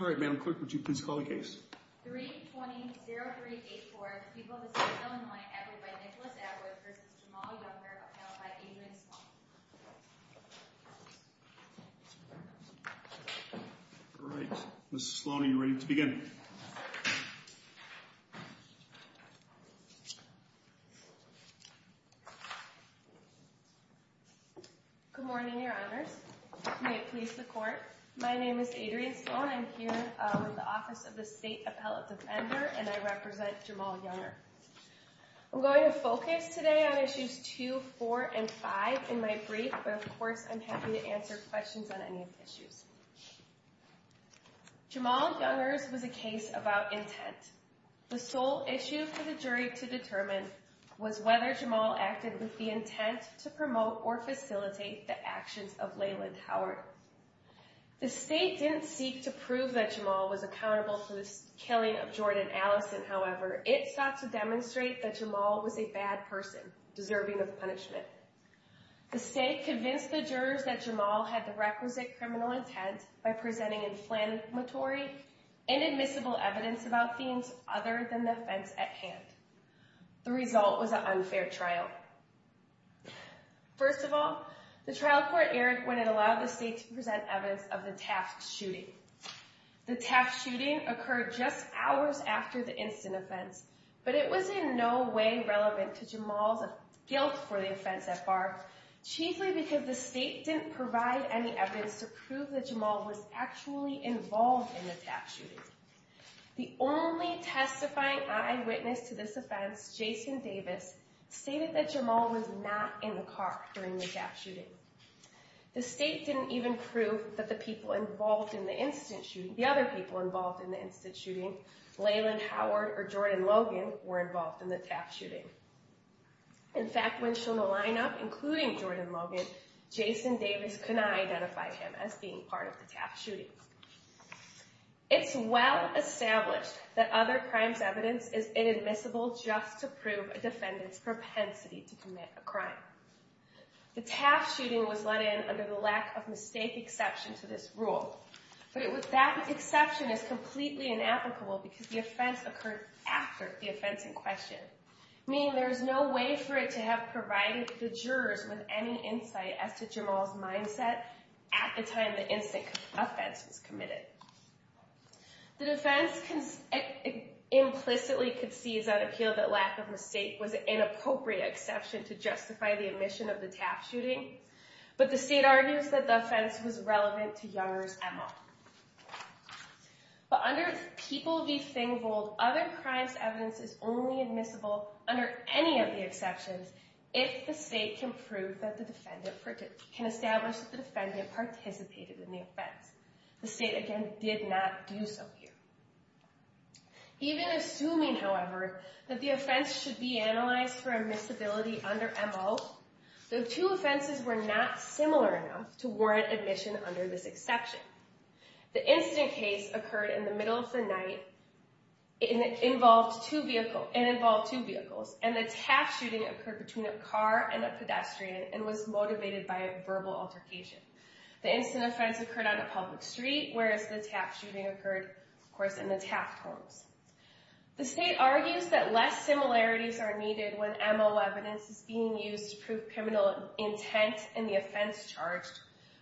All right, Madam Clerk, would you please call the case? 320384, the people of the state of Illinois, acquitted by Nicholas Atwood v. Jamal Younger, appelled by Adrian Sloan. All right, Mrs. Sloan, are you ready to begin? May it please the Court, my name is Adrian Sloan, I'm here with the Office of the State Appellate Defender, and I represent Jamal Younger. I'm going to focus today on Issues 2, 4, and 5 in my brief, but of course I'm happy to answer questions on any of the issues. Jamal Younger's was a case about intent. The sole issue for the jury to determine was whether Jamal acted with the intent to promote or facilitate the actions of Leland Howard. The state didn't seek to prove that Jamal was accountable for the killing of Jordan Allison, however, it sought to demonstrate that Jamal was a bad person, deserving of punishment. The state convinced the jurors that Jamal had the requisite criminal intent by presenting inflammatory, inadmissible evidence about themes other than the offense at hand. The result was an unfair trial. First of all, the trial court erred when it allowed the state to present evidence of the taft shooting. The taft shooting occurred just hours after the instant offense, but it was in no way relevant to Jamal's guilt for the offense at bar, chiefly because the state didn't provide any evidence to prove that Jamal was actually involved in the taft shooting. The only testifying eyewitness to this offense, Jason Davis, stated that Jamal was not in the car during the taft shooting. The state didn't even prove that the other people involved in the instant shooting, Leland Howard or Jordan Logan, were involved in the taft shooting. In fact, when shown a lineup, including Jordan Logan, Jason Davis could not identify him as being part of the taft shooting. It's well established that other crimes' evidence is inadmissible just to prove a defendant's propensity to commit a crime. The taft shooting was let in under the lack of mistake exception to this rule, but that exception is completely inapplicable because the offense occurred after the offense in question, meaning there is no way for it to have provided the jurors with any insight as to Jamal's mindset at the time the instant offense was committed. The defense implicitly concedes on appeal that lack of mistake was an inappropriate exception to justify the omission of the taft shooting, but the state argues that the offense was relevant to Younger's MO. But under People v. Thingvold, other crimes' evidence is only admissible under any of the exceptions if the state can prove that the defendant can establish that the defendant participated in the offense. The state, again, did not do so here. Even assuming, however, that the offense should be analyzed for admissibility under MO, the two offenses were not similar enough to warrant admission under this exception. The instant case occurred in the middle of the night and involved two vehicles, and the taft shooting occurred between a car and a pedestrian and was motivated by a verbal altercation. The instant offense occurred on a public street, whereas the taft shooting occurred, of course, in the taft homes. The state argues that less similarities are needed when MO evidence is being used to prove criminal intent in the offense charged,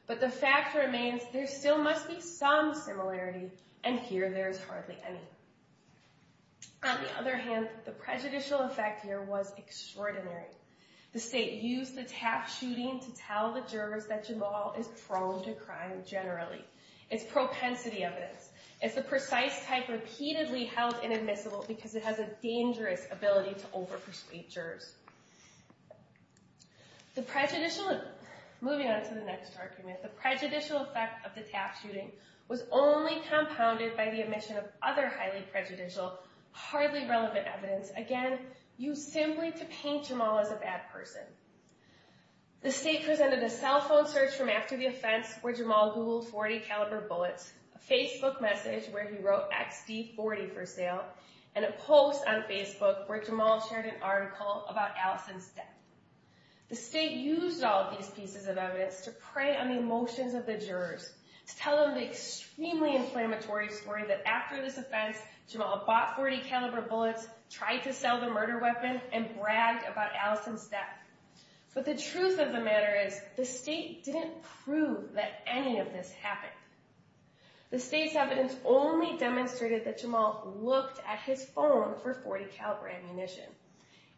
but the fact remains there still must be some similarity, and here there is hardly any. On the other hand, the prejudicial effect here was extraordinary. The state used the taft shooting to tell the jurors that Jamal is prone to crime generally. It's propensity evidence. It's the precise type repeatedly held inadmissible because it has a dangerous ability to over-persuade jurors. Moving on to the next argument, the prejudicial effect of the taft shooting was only compounded by the admission of other highly prejudicial, hardly relevant evidence, again, used simply to paint Jamal as a bad person. The state presented a cell phone search from after the offense where Jamal Googled .40 caliber bullets, a Facebook message where he wrote XD40 for sale, and a post on Facebook where Jamal shared an article about Allison's death. The state used all of these pieces of evidence to prey on the emotions of the jurors, to tell them the extremely inflammatory story that after this offense, Jamal bought .40 caliber bullets, tried to sell the murder weapon, and bragged about Allison's death. But the truth of the matter is, the state didn't prove that any of this happened. The state's evidence only demonstrated that Jamal looked at his phone for .40 caliber ammunition.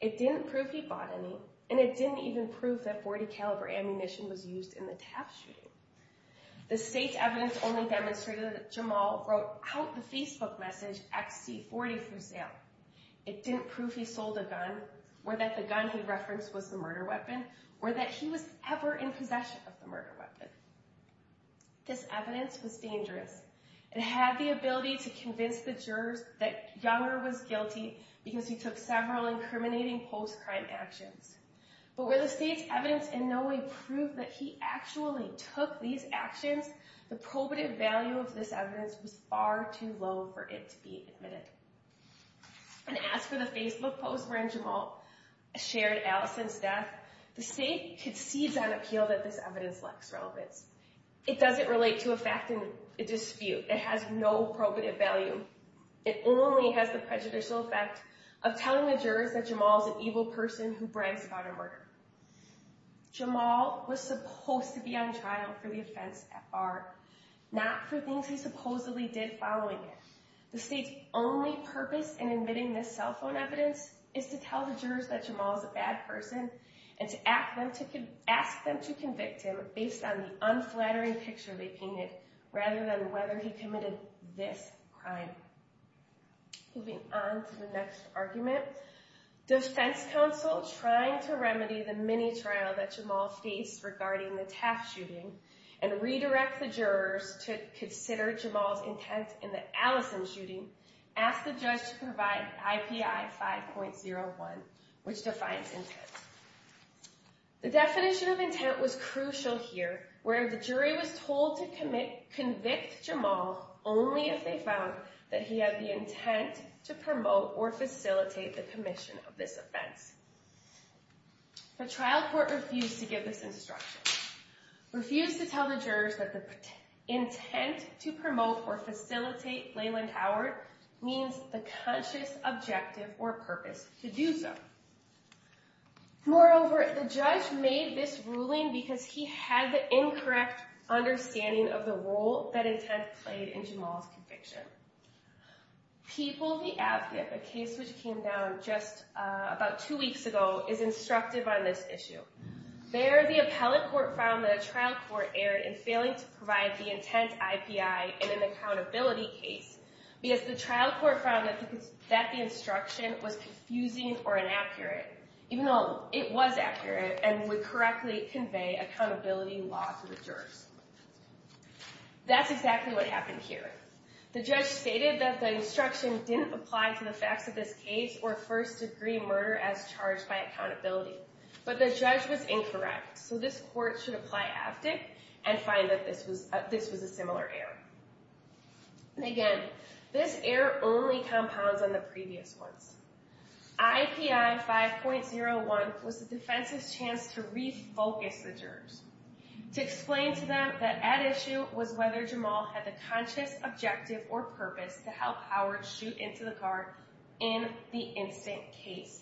It didn't prove he bought any, and it didn't even prove that .40 caliber ammunition was used in the taft shooting. The state's evidence only demonstrated that Jamal wrote out the Facebook message XD40 for sale. It didn't prove he sold a gun, or that the gun he referenced was the murder weapon, or that he was ever in possession of the murder weapon. This evidence was dangerous. It had the ability to convince the jurors that Younger was guilty because he took several incriminating post-crime actions. But where the state's evidence in no way proved that he actually took these actions, the probative value of this evidence was far too low for it to be admitted. And as for the Facebook post wherein Jamal shared Allison's death, the state concedes on appeal that this evidence lacks relevance. It doesn't relate to a fact in a dispute. It has no probative value. It only has the prejudicial effect of telling the jurors that Jamal is an evil person who brands a gun a murder. Jamal was supposed to be on trial for the offense FR, not for things he supposedly did following it. The state's only purpose in admitting this cell phone evidence is to tell the jurors that Jamal is a bad person and to ask them to convict him based on the unflattering picture they painted rather than whether he committed this crime. Moving on to the next argument, defense counsel trying to remedy the mini-trial that Jamal faced regarding the Taft shooting and redirect the jurors to consider Jamal's intent in the Allison shooting asked the judge to provide IPI 5.01 which defines intent. The definition of intent was crucial here where the jury was told to convict Jamal only if they found that he had the intent to promote or facilitate the commission of this offense. The trial court refused to give this instruction. Refused to tell the jurors that the intent to promote or facilitate Leland Howard means the conscious objective or purpose to do so. Moreover, the judge made this ruling because he had the incorrect understanding of the role that intent played in Jamal's conviction. People v. Avgib, a case which came down just about two weeks ago, is instructive on this issue. There, the appellate court found that a trial court erred in failing to provide the intent IPI in an accountability case because the trial court found that the instruction was confusing or inaccurate even though it was accurate and would correctly convey accountability law to the jurors. That's exactly what happened here. The judge stated that the instruction didn't apply to the facts of this case or first degree murder as charged by accountability but the judge was incorrect so this court should apply Avgib and find that this was a similar error. Again, this error only compounds on the previous ones. IPI 5.01 was the defense's chance to refocus the jurors to explain to them that at issue was whether Jamal had the conscious objective or purpose to help Howard shoot into the car in the instant case.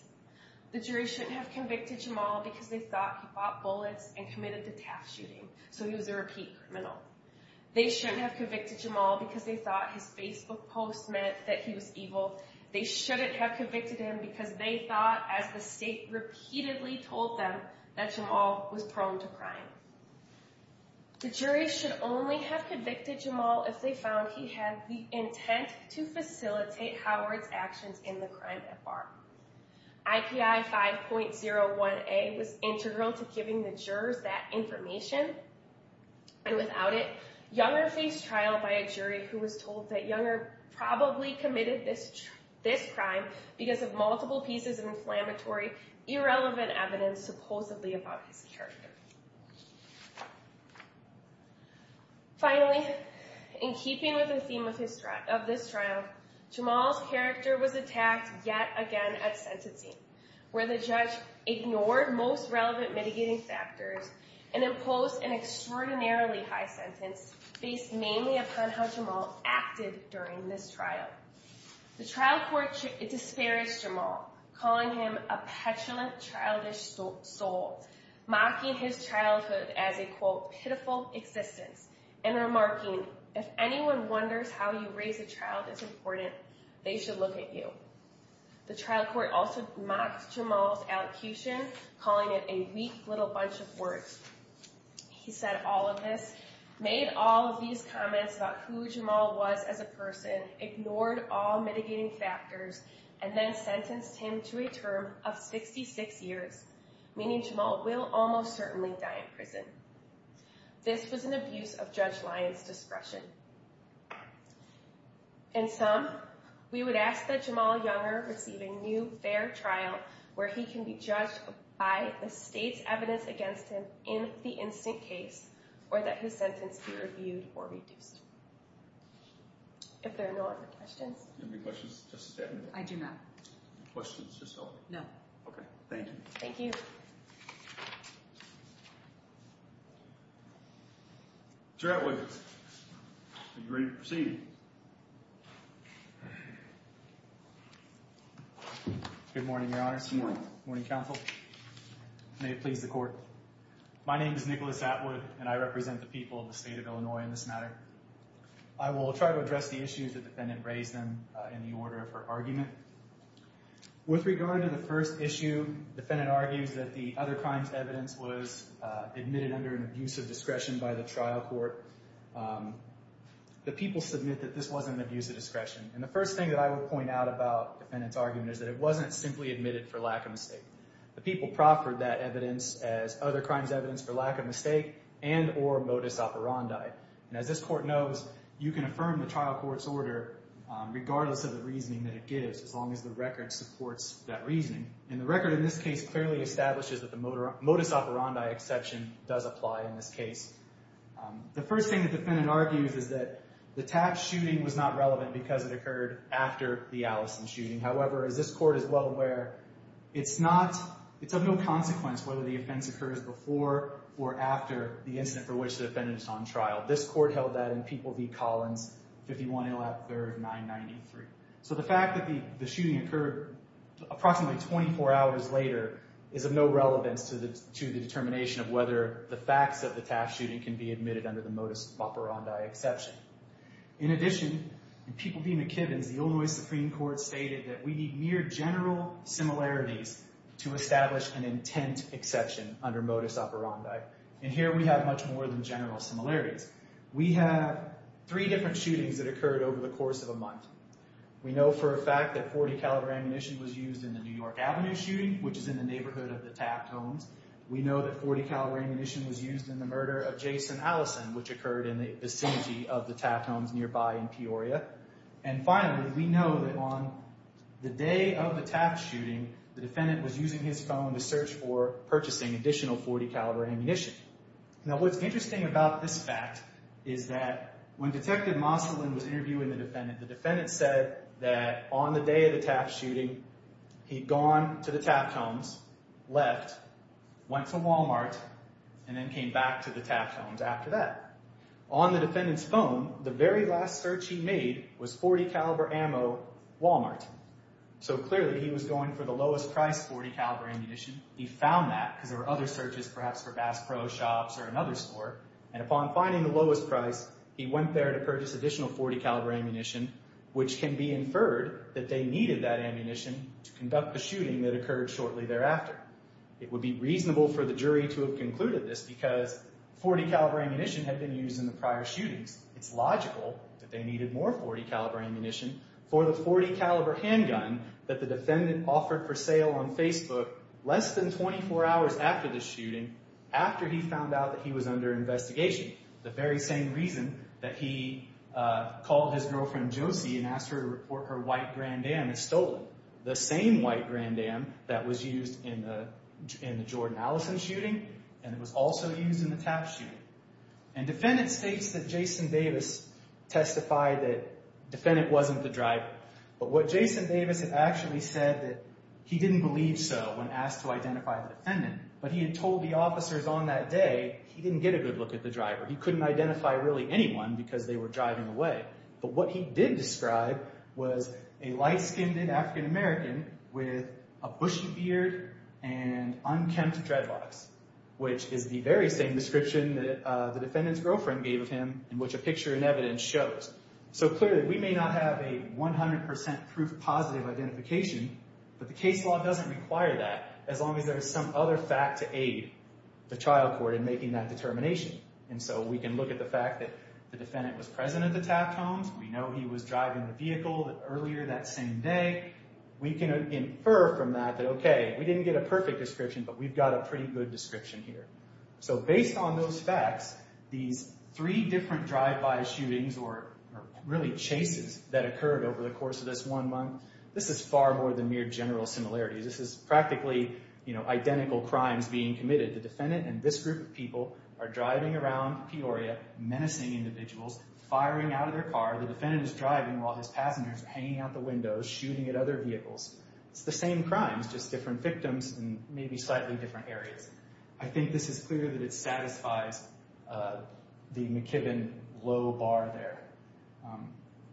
The jurors shouldn't have convicted Jamal because they thought he bought bullets and committed the taft shooting so he was a repeat criminal. They shouldn't have convicted Jamal because they thought his Facebook post meant that he was evil. They shouldn't have convicted him because they thought, as the state repeatedly told them, that Jamal was prone to crime. The jurors should only have convicted Jamal if they found he had the intent to facilitate Howard's actions in the crime FR. IPI 5.01A was integral to giving the jurors that information and without it, Younger faced trial by a jury who was told that Younger probably committed this crime because of multiple pieces of inflammatory, irrelevant evidence supposedly about his character. Finally, in keeping with the theme of this trial, Jamal's character was attacked yet again at sentencing where the judge ignored most relevant mitigating factors and imposed an extraordinarily high sentence based mainly upon how Jamal acted during this trial. The trial court disparaged Jamal, calling him a petulant, childish soul, mocking his childhood as a, quote, pitiful existence and remarking, if anyone wonders how you raise a child that's important, they should look at you. The trial court also mocked Jamal's allocution, calling it a weak little bunch of words. He said all of this, made all of these comments about who Jamal was as a person, ignored all mitigating factors, and then sentenced him to a term of 66 years, meaning Jamal will almost certainly die in prison. This was an abuse of Judge Lyons' discretion. In sum, we would ask that Jamal Younger receive a new, fair trial where he can be judged by the state's evidence against him in the instant case or that his sentence be reviewed or reduced. If there are no other questions. Do you have any questions, Justice Devaney? I do not. Questions, just to help? No. Okay, thank you. Judge Atwood, are you ready to proceed? Good morning, Your Honor. Good morning. Good morning, counsel. May it please the court. My name is Nicholas Atwood, and I represent the people of the state of Illinois in this matter. I will try to address the issues the defendant raised in the order of her argument. With regard to the first issue, the defendant argues that the other crimes evidence was admitted under an abuse of discretion by the trial court. The people submit that this wasn't an abuse of discretion. And the first thing that I would point out about the defendant's argument is that it wasn't simply admitted for lack of mistake. The people proffered that evidence as other crimes evidence for lack of mistake and or modus operandi. And as this court knows, you can affirm the trial court's order regardless of the reasoning that it gives, as long as the record supports that reasoning. And the record in this case clearly establishes that the modus operandi exception does apply in this case. The first thing the defendant argues is that the tap shooting was not relevant because it occurred after the Allison shooting. However, as this court is well aware, it's of no consequence whether the offense occurs before or after the incident for which the defendant is on trial. This court held that in People v. Collins, 51-03-993. So the fact that the shooting occurred approximately 24 hours later is of no relevance to the determination of whether the facts of the tap shooting can be admitted under the modus operandi exception. In addition, in People v. McKibbins, the Illinois Supreme Court stated that we need mere general similarities to establish an intent exception under modus operandi. And here we have much more than general similarities. We have three different shootings that occurred over the course of a month. We know for a fact that .40 caliber ammunition was used in the New York Avenue shooting, which is in the neighborhood of the tap homes. We know that .40 caliber ammunition was used in the murder of Jason Allison, which occurred in the vicinity of the tap homes nearby in Peoria. And finally, we know that on the day of the tap shooting, the defendant was using his phone to search for purchasing additional .40 caliber ammunition. Now, what's interesting about this fact is that when Detective Mosterlin was interviewing the defendant, the defendant said that on the day of the tap shooting, he'd gone to the tap homes, left, went to Walmart, and then came back to the tap homes after that. On the defendant's phone, the very last search he made was .40 caliber ammo, Walmart. So clearly, he was going for the lowest price .40 caliber ammunition. He found that because there were other searches, perhaps for Bass Pro Shops or another store. And upon finding the lowest price, he went there to purchase additional .40 caliber ammunition, which can be inferred that they needed that ammunition to conduct the shooting that occurred shortly thereafter. It would be reasonable for the jury to have concluded this because .40 caliber ammunition had been used in the prior shootings. It's logical that they needed more .40 caliber ammunition for the .40 caliber handgun that the defendant offered for sale on Facebook less than 24 hours after the shooting, after he found out that he was under investigation. The very same reason that he called his girlfriend Josie and asked her to report her white Grand Am is stolen. The same white Grand Am that was used in the Jordan Allison shooting, and it was also used in the tap shooting. And defendant states that Jason Davis testified that the defendant wasn't the driver. But what Jason Davis had actually said that he didn't believe so when asked to identify the defendant, but he had told the officers on that day he didn't get a good look at the driver. He couldn't identify really anyone because they were driving away. But what he did describe was a light-skinned African American with a bushy beard and unkempt dreadlocks, which is the very same description that the defendant's girlfriend gave him in which a picture in evidence shows. So clearly we may not have a 100% proof positive identification, but the case law doesn't require that as long as there is some other fact to aid the trial court in making that determination. And so we can look at the fact that the defendant was present at the tap homes, we know he was driving the vehicle earlier that same day. We can infer from that that, okay, we didn't get a perfect description, but we've got a pretty good description here. So based on those facts, these three different drive-by shootings or really chases that occurred over the course of this one month, this is far more than mere general similarities. This is practically identical crimes being committed. The defendant and this group of people are driving around Peoria menacing individuals, firing out of their car. The defendant is driving while his passengers are hanging out the windows, shooting at other vehicles. It's the same crimes, just different victims in maybe slightly different areas. I think this is clear that it satisfies the McKibbin low bar there.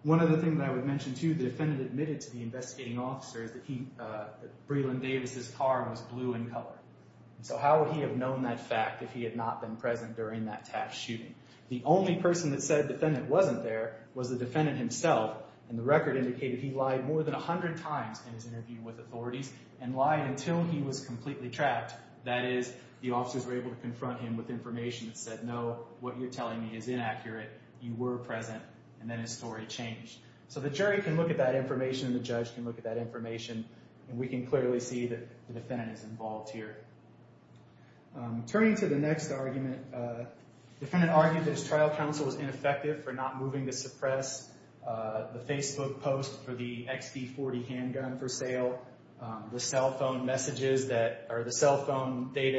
One other thing that I would mention too, the defendant admitted to the investigating officer that Breland Davis's car was blue in color. So how would he have known that fact if he had not been present during that tap shooting? The only person that said the defendant wasn't there was the defendant himself, and the record indicated he lied more than 100 times in his interview with authorities and lied until he was completely trapped. That is, the officers were able to confront him with information that said, no, what you're telling me is inaccurate, you were present, and then his story changed. So the jury can look at that information and the judge can look at that information, and we can clearly see that the defendant is involved here. Turning to the next argument, the defendant argued that his trial counsel was ineffective for not moving to suppress the Facebook post for the XP-40 handgun for sale, the cell phone data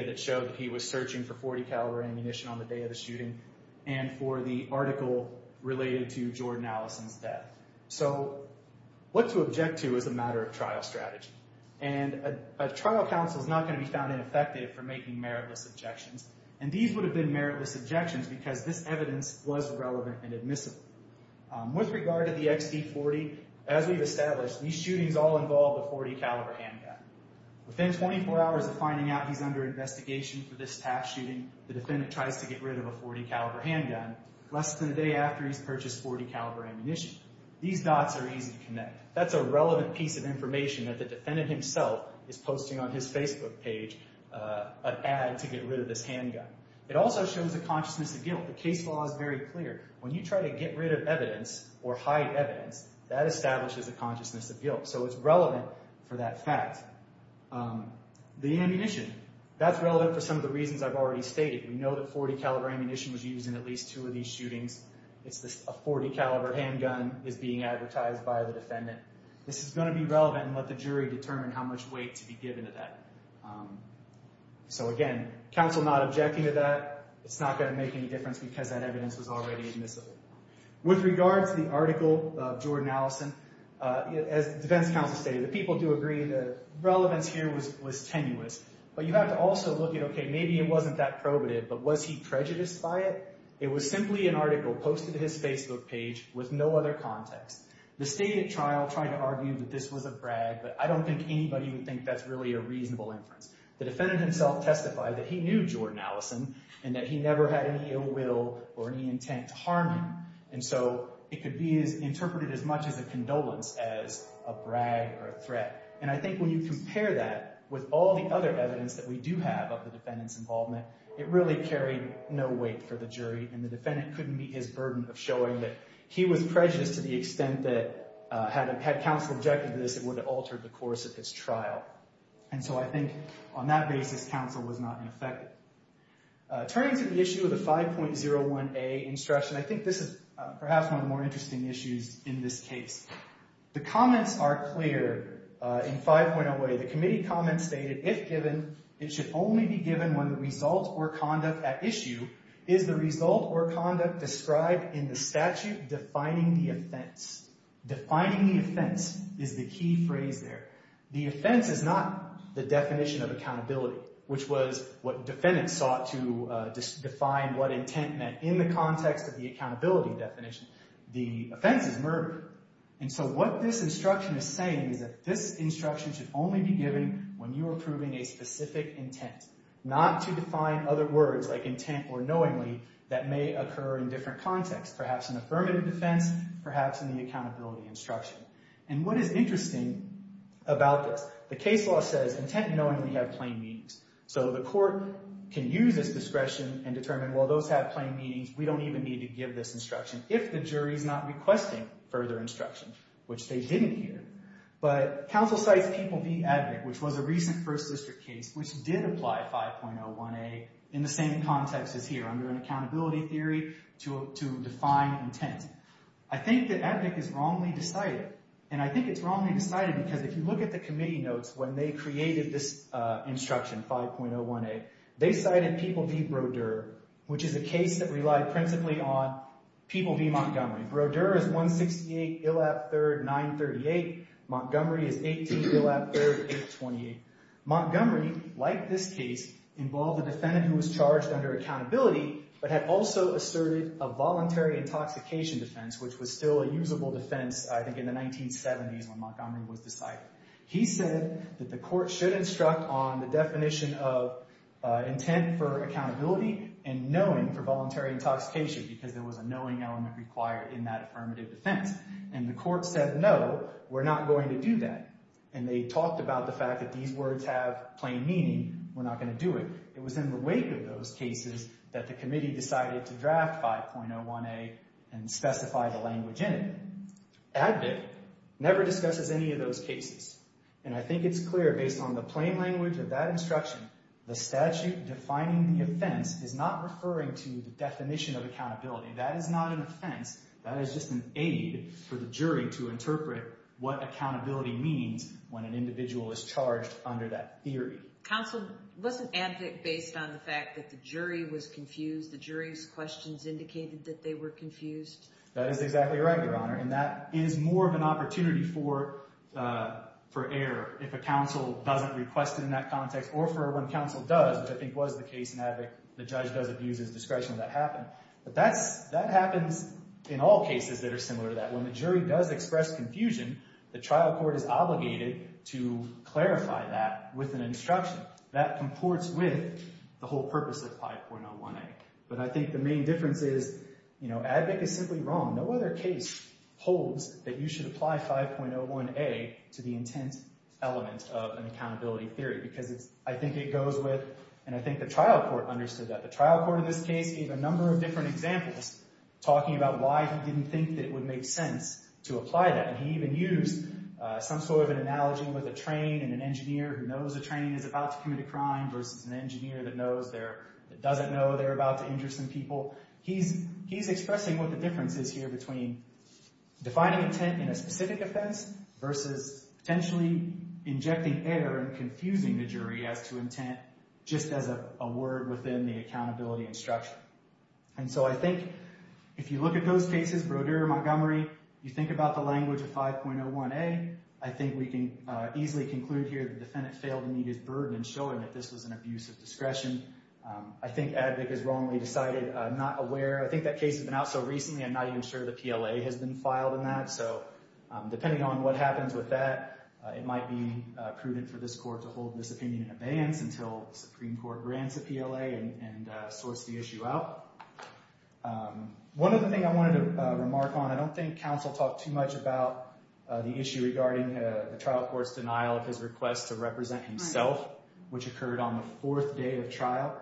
that showed that he was searching for .40 caliber ammunition on the day of the shooting, and for the article related to Jordan Allison's death. So what to object to is a matter of trial strategy. And a trial counsel is not going to be found ineffective for making meritless objections, and these would have been meritless objections because this evidence was relevant and admissible. With regard to the XP-40, as we've established, these shootings all involve a .40 caliber handgun. Within 24 hours of finding out he's under investigation for this tap shooting, the defendant tries to get rid of a .40 caliber handgun less than a day after he's purchased .40 caliber ammunition. These dots are easy to connect. That's a relevant piece of information that the defendant himself is posting on his Facebook page, an ad to get rid of this handgun. It also shows a consciousness of guilt. The case law is very clear. When you try to get rid of evidence or hide evidence, that establishes a consciousness of guilt. So it's relevant for that fact. The ammunition, that's relevant for some of the reasons I've already stated. We know that .40 caliber ammunition was used in at least two of these shootings. A .40 caliber handgun is being advertised by the defendant. This is going to be relevant and let the jury determine how much weight to be given to that. So again, counsel not objecting to that, it's not going to make any difference because that evidence was already admissible. With regard to the article of Jordan Allison, as the defense counsel stated, the people do agree the relevance here was tenuous. But you have to also look at, okay, maybe it wasn't that probative, but was he prejudiced by it? It was simply an article posted to his Facebook page with no other context. The state at trial tried to argue that this was a brag, but I don't think anybody would think that's really a reasonable inference. The defendant himself testified that he knew Jordan Allison and that he never had any ill will or any intent to harm him. And so it could be interpreted as much as a condolence as a brag or a threat. And I think when you compare that with all the other evidence that we do have about the defendant's involvement, it really carried no weight for the jury, and the defendant couldn't meet his burden of showing that he was prejudiced to the extent that had counsel objected to this, it would have altered the course of his trial. And so I think on that basis, counsel was not in effect. Turning to the issue of the 5.01a instruction, I think this is perhaps one of the more interesting issues in this case. The comments are clear in 5.01a. The committee comments stated, if given, it should only be given when the result or conduct at issue is the result or conduct described in the statute defining the offense. Defining the offense is the key phrase there. The offense is not the definition of accountability, which was what defendants sought to define what intent meant in the context of the accountability definition. The offense is murder. And so what this instruction is saying is that this instruction should only be given when you are proving a specific intent, not to define other words like intent or knowingly that may occur in different contexts, perhaps in affirmative defense, perhaps in the accountability instruction. And what is interesting about this, the case law says intent and knowingly have plain meanings. So the court can use this discretion and determine, well, those have plain meanings. We don't even need to give this instruction. If the jury is not requesting further instruction, which they didn't here. But counsel cites People v. Abnick, which was a recent first district case, which did apply 5.01a in the same context as here under an accountability theory to define intent. I think that Abnick is wrongly decided. And I think it's wrongly decided because if you look at the committee notes when they created this instruction, 5.01a, they cited People v. Brodeur, which is a case that relied principally on People v. Montgomery. Brodeur is 168, Illap, 3rd, 938. Montgomery is 18, Illap, 3rd, 828. Montgomery, like this case, involved a defendant who was charged under accountability but had also asserted a voluntary intoxication defense, which was still a usable defense, I think, in the 1970s when Montgomery was decided. He said that the court should instruct on the definition of intent for accountability and knowing for voluntary intoxication because there was a knowing element required in that affirmative defense. And the court said, no, we're not going to do that. And they talked about the fact that these words have plain meaning, we're not going to do it. It was in the wake of those cases that the committee decided to draft 5.01a and specify the language in it. Advocate never discusses any of those cases. And I think it's clear, based on the plain language of that instruction, the statute defining the offense is not referring to the definition of accountability. That is not an offense. That is just an aid for the jury to interpret what accountability means when an individual is charged under that theory. Counsel, wasn't Advocate based on the fact that the jury was confused, the jury's questions indicated that they were confused? That is exactly right, Your Honor. And that is more of an opportunity for error if a counsel doesn't request it in that context or for when counsel does, which I think was the case in Advocate, the judge does abuse his discretion when that happened. But that happens in all cases that are similar to that. When the jury does express confusion, the trial court is obligated to clarify that with an instruction. That comports with the whole purpose of 5.01a. But I think the main difference is Advocate is simply wrong. No other case holds that you should apply 5.01a to the intent element of an accountability theory. Because I think it goes with, and I think the trial court understood that. The trial court in this case gave a number of different examples talking about why he didn't think that it would make sense to apply that. And he even used some sort of an analogy with a train and an engineer who knows a train is about to commit a crime versus an engineer that doesn't know they're about to injure some people. He's expressing what the difference is here between defining intent in a specific offense versus potentially injecting error and confusing the jury as to intent just as a word within the accountability instruction. And so I think if you look at those cases, Brodeur, Montgomery, you think about the language of 5.01a, I think we can easily conclude here that the defendant failed to meet his burden in showing that this was an abuse of discretion. I think Advocate has wrongly decided not aware. I think that case has been out so recently I'm not even sure the PLA has been filed in that. So depending on what happens with that, it might be prudent for this court to hold this opinion in advance until the Supreme Court grants a PLA and sorts the issue out. One other thing I wanted to remark on, I don't think counsel talked too much about the issue regarding the trial court's denial of his request to represent himself, which occurred on the fourth day of trial.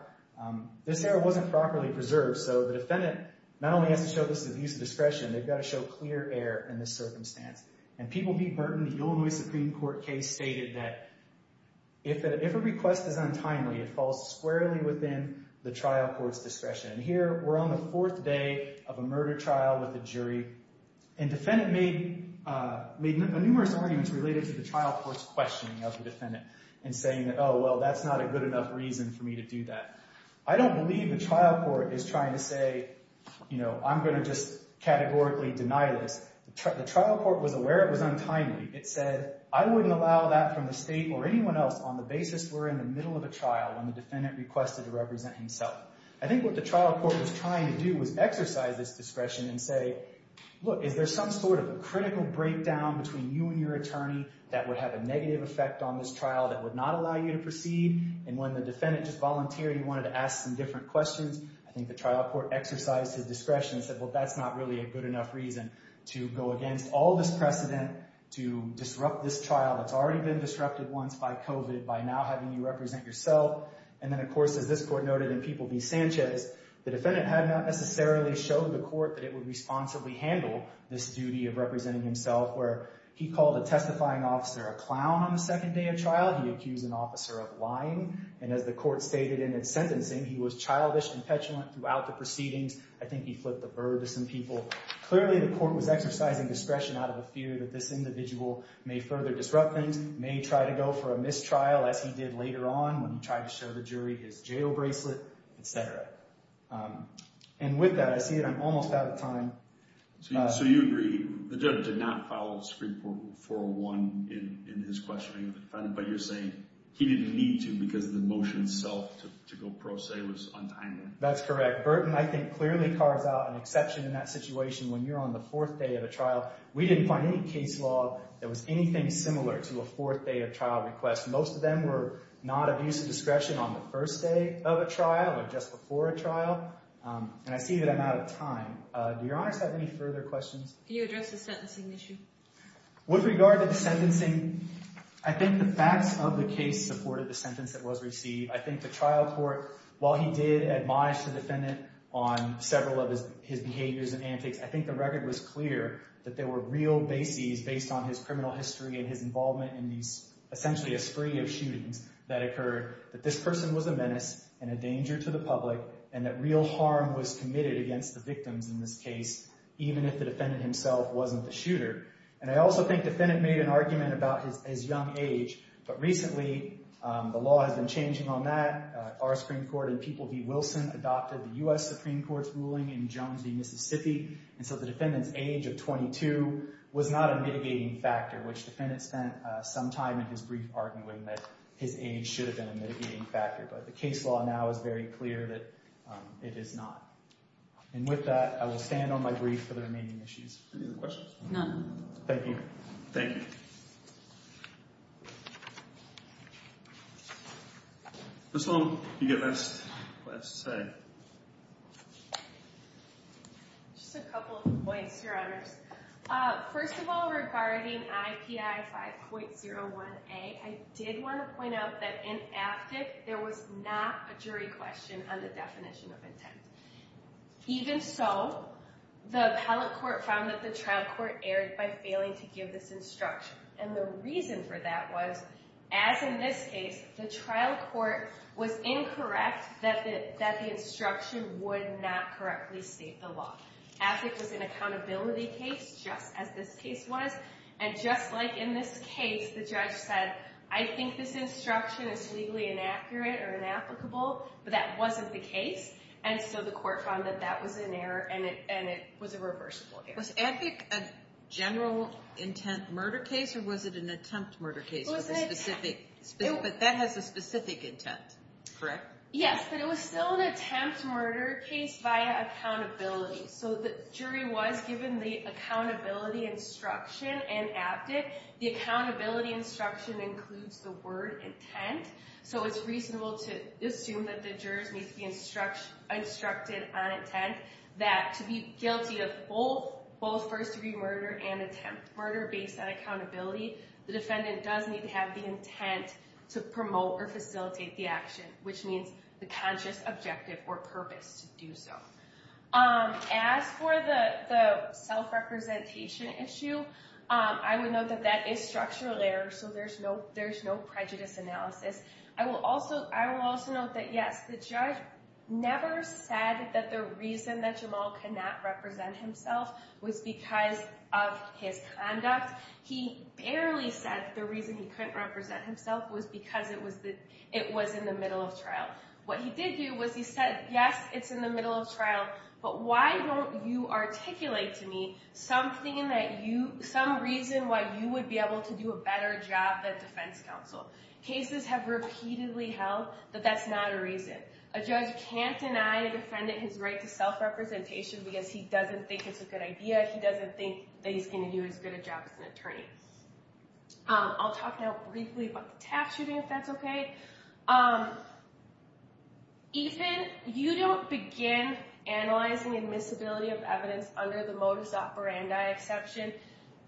This error wasn't properly preserved, so the defendant not only has to show this abuse of discretion, they've got to show clear error in this circumstance. And people be burdened, the Illinois Supreme Court case stated that if a request is untimely, it falls squarely within the trial court's discretion. And here we're on the fourth day of a murder trial with a jury, and the defendant made numerous arguments related to the trial court's questioning of the defendant and saying that, oh, well, that's not a good enough reason for me to do that. I don't believe the trial court is trying to say, you know, I'm going to just categorically deny this. The trial court was aware it was untimely. It said, I wouldn't allow that from the state or anyone else on the basis we're in the middle of a trial when the defendant requested to represent himself. I think what the trial court was trying to do was exercise this discretion and say, look, is there some sort of a critical breakdown between you and your attorney that would have a negative effect on this trial that would not allow you to proceed? And when the defendant just voluntarily wanted to ask some different questions, I think the trial court exercised his discretion and said, well, that's not really a good enough reason to go against all this precedent to disrupt this trial that's already been disrupted once by COVID by now having you represent yourself. And then, of course, as this court noted in People v. Sanchez, the defendant had not necessarily showed the court that it would responsibly handle this duty of representing himself where he called a testifying officer a clown on the second day of trial. He accused an officer of lying. And as the court stated in its sentencing, he was childish and petulant throughout the proceedings. I think he flipped the bird to some people. Clearly, the court was exercising discretion out of a fear that this individual may further disrupt things, may try to go for a mistrial as he did later on when he tried to show the jury his jail bracelet, etc. And with that, I see that I'm almost out of time. So you agree the judge did not follow Supreme Court 401 in his questioning of the defendant, but you're saying he didn't need to because the motion itself to go pro se was untimely. That's correct. Burton, I think, clearly carves out an exception in that situation. When you're on the fourth day of a trial, we didn't find any case law that was anything similar to a fourth day of trial request. Most of them were not of use of discretion on the first day of a trial or just before a trial. And I see that I'm out of time. Do your honors have any further questions? Can you address the sentencing issue? With regard to the sentencing, I think the facts of the case supported the sentence that was received. I think the trial court, while he did admonish the defendant on several of his behaviors and antics, I think the record was clear that there were real bases based on his criminal history and his involvement in essentially a spree of shootings that occurred, that this person was a menace and a danger to the public, and that real harm was committed against the victims in this case, even if the defendant himself wasn't the shooter. And I also think the defendant made an argument about his young age, but recently the law has been changing on that. Our Supreme Court in People v. Wilson adopted the U.S. Supreme Court's ruling in Jones v. Mississippi, and so the defendant's age of 22 was not a mitigating factor, which the defendant spent some time in his brief arguing that his age should have been a mitigating factor. But the case law now is very clear that it is not. And with that, I will stand on my brief for the remaining issues. Any other questions? None. Thank you. Thank you. Ms. Sloan, you've got the last slide. Just a couple of points, Your Honors. First of all, regarding IPI 5.01a, I did want to point out that in AFTIC, there was not a jury question on the definition of intent. Even so, the appellate court found that the trial court erred by failing to give this instruction. And the reason for that was, as in this case, the trial court was incorrect that the instruction would not correctly state the law. AFTIC was an accountability case, just as this case was. And just like in this case, the judge said, I think this instruction is legally inaccurate or inapplicable, but that wasn't the case. And so the court found that that was an error, and it was a reversible error. Was AFTIC a general intent murder case, or was it an attempt murder case? It was an attempt. But that has a specific intent, correct? Yes, but it was still an attempt murder case via accountability. So the jury was given the accountability instruction in AFTIC. The accountability instruction includes the word intent. So it's reasonable to assume that the jurors need to be instructed on intent, that to be guilty of both first-degree murder and attempt murder based on accountability, the defendant does need to have the intent to promote or facilitate the action, which means the conscious objective or purpose to do so. As for the self-representation issue, I would note that that is structural error, so there's no prejudice analysis. I will also note that, yes, the judge never said that the reason that Jamal could not represent himself was because of his conduct. He barely said the reason he couldn't represent himself was because it was in the middle of trial. What he did do was he said, yes, it's in the middle of trial, but why don't you articulate to me some reason why you would be able to do a better job at defense counsel? Cases have repeatedly held that that's not a reason. A judge can't deny a defendant his right to self-representation because he doesn't think it's a good idea. He doesn't think that he's going to do as good a job as an attorney. I'll talk now briefly about the tax shooting, if that's okay. Ethan, you don't begin analyzing admissibility of evidence under the modus operandi exception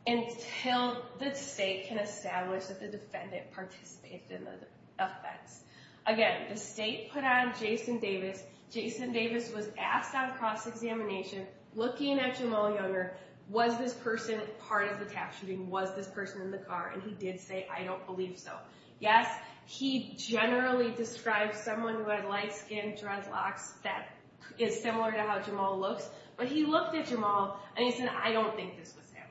until the state can establish that the defendant participated in the offense. Again, the state put on Jason Davis. Jason Davis was asked on cross-examination, looking at Jamal Younger, was this person part of the tax shooting? Was this person in the car? And he did say, I don't believe so. Yes, he generally describes someone who had light-skinned dreadlocks that is similar to how Jamal looks, but he looked at Jamal and he said, I don't think this was him.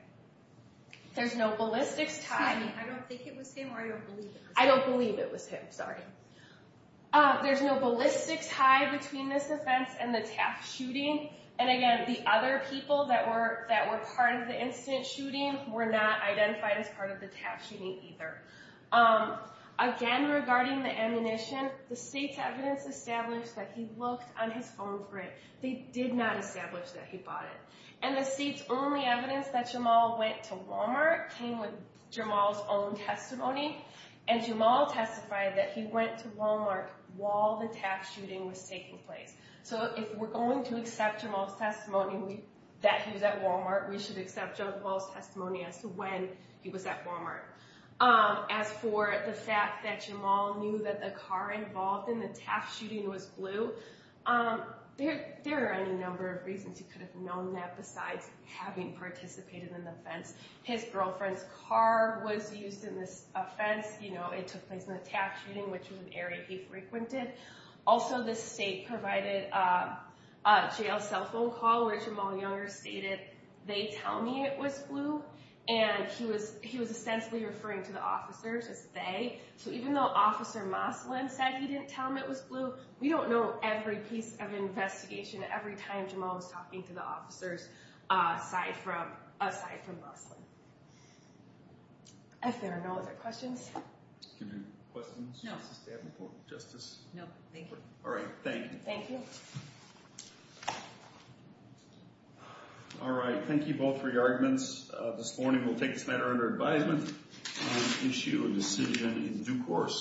There's no ballistics tie. I don't think it was him or I don't believe it was him. I don't believe it was him, sorry. There's no ballistics tie between this offense and the tax shooting. And again, the other people that were part of the incident shooting were not identified as part of the tax shooting either. Again, regarding the ammunition, the state's evidence established that he looked on his phone for it. They did not establish that he bought it. And the state's only evidence that Jamal went to Walmart came with Jamal's own testimony. And Jamal testified that he went to Walmart while the tax shooting was taking place. So if we're going to accept Jamal's testimony that he was at Walmart, we should accept Jamal's testimony as to when he was at Walmart. As for the fact that Jamal knew that the car involved in the tax shooting was blue, there are any number of reasons he could have known that besides having participated in the offense. His girlfriend's car was used in this offense. You know, it took place in a tax shooting, which was an area he frequented. Also, the state provided a jail cell phone call where Jamal Younger stated, they tell me it was blue. And he was ostensibly referring to the officers as they. So even though Officer Moslin said he didn't tell him it was blue, we don't know every piece of investigation, every time Jamal was talking to the officers aside from Moslin. If there are no other questions. Questions? No. No, thank you. All right, thank you. Thank you. All right, thank you both for your arguments. This morning we'll take this matter under advisement and issue a decision in due course.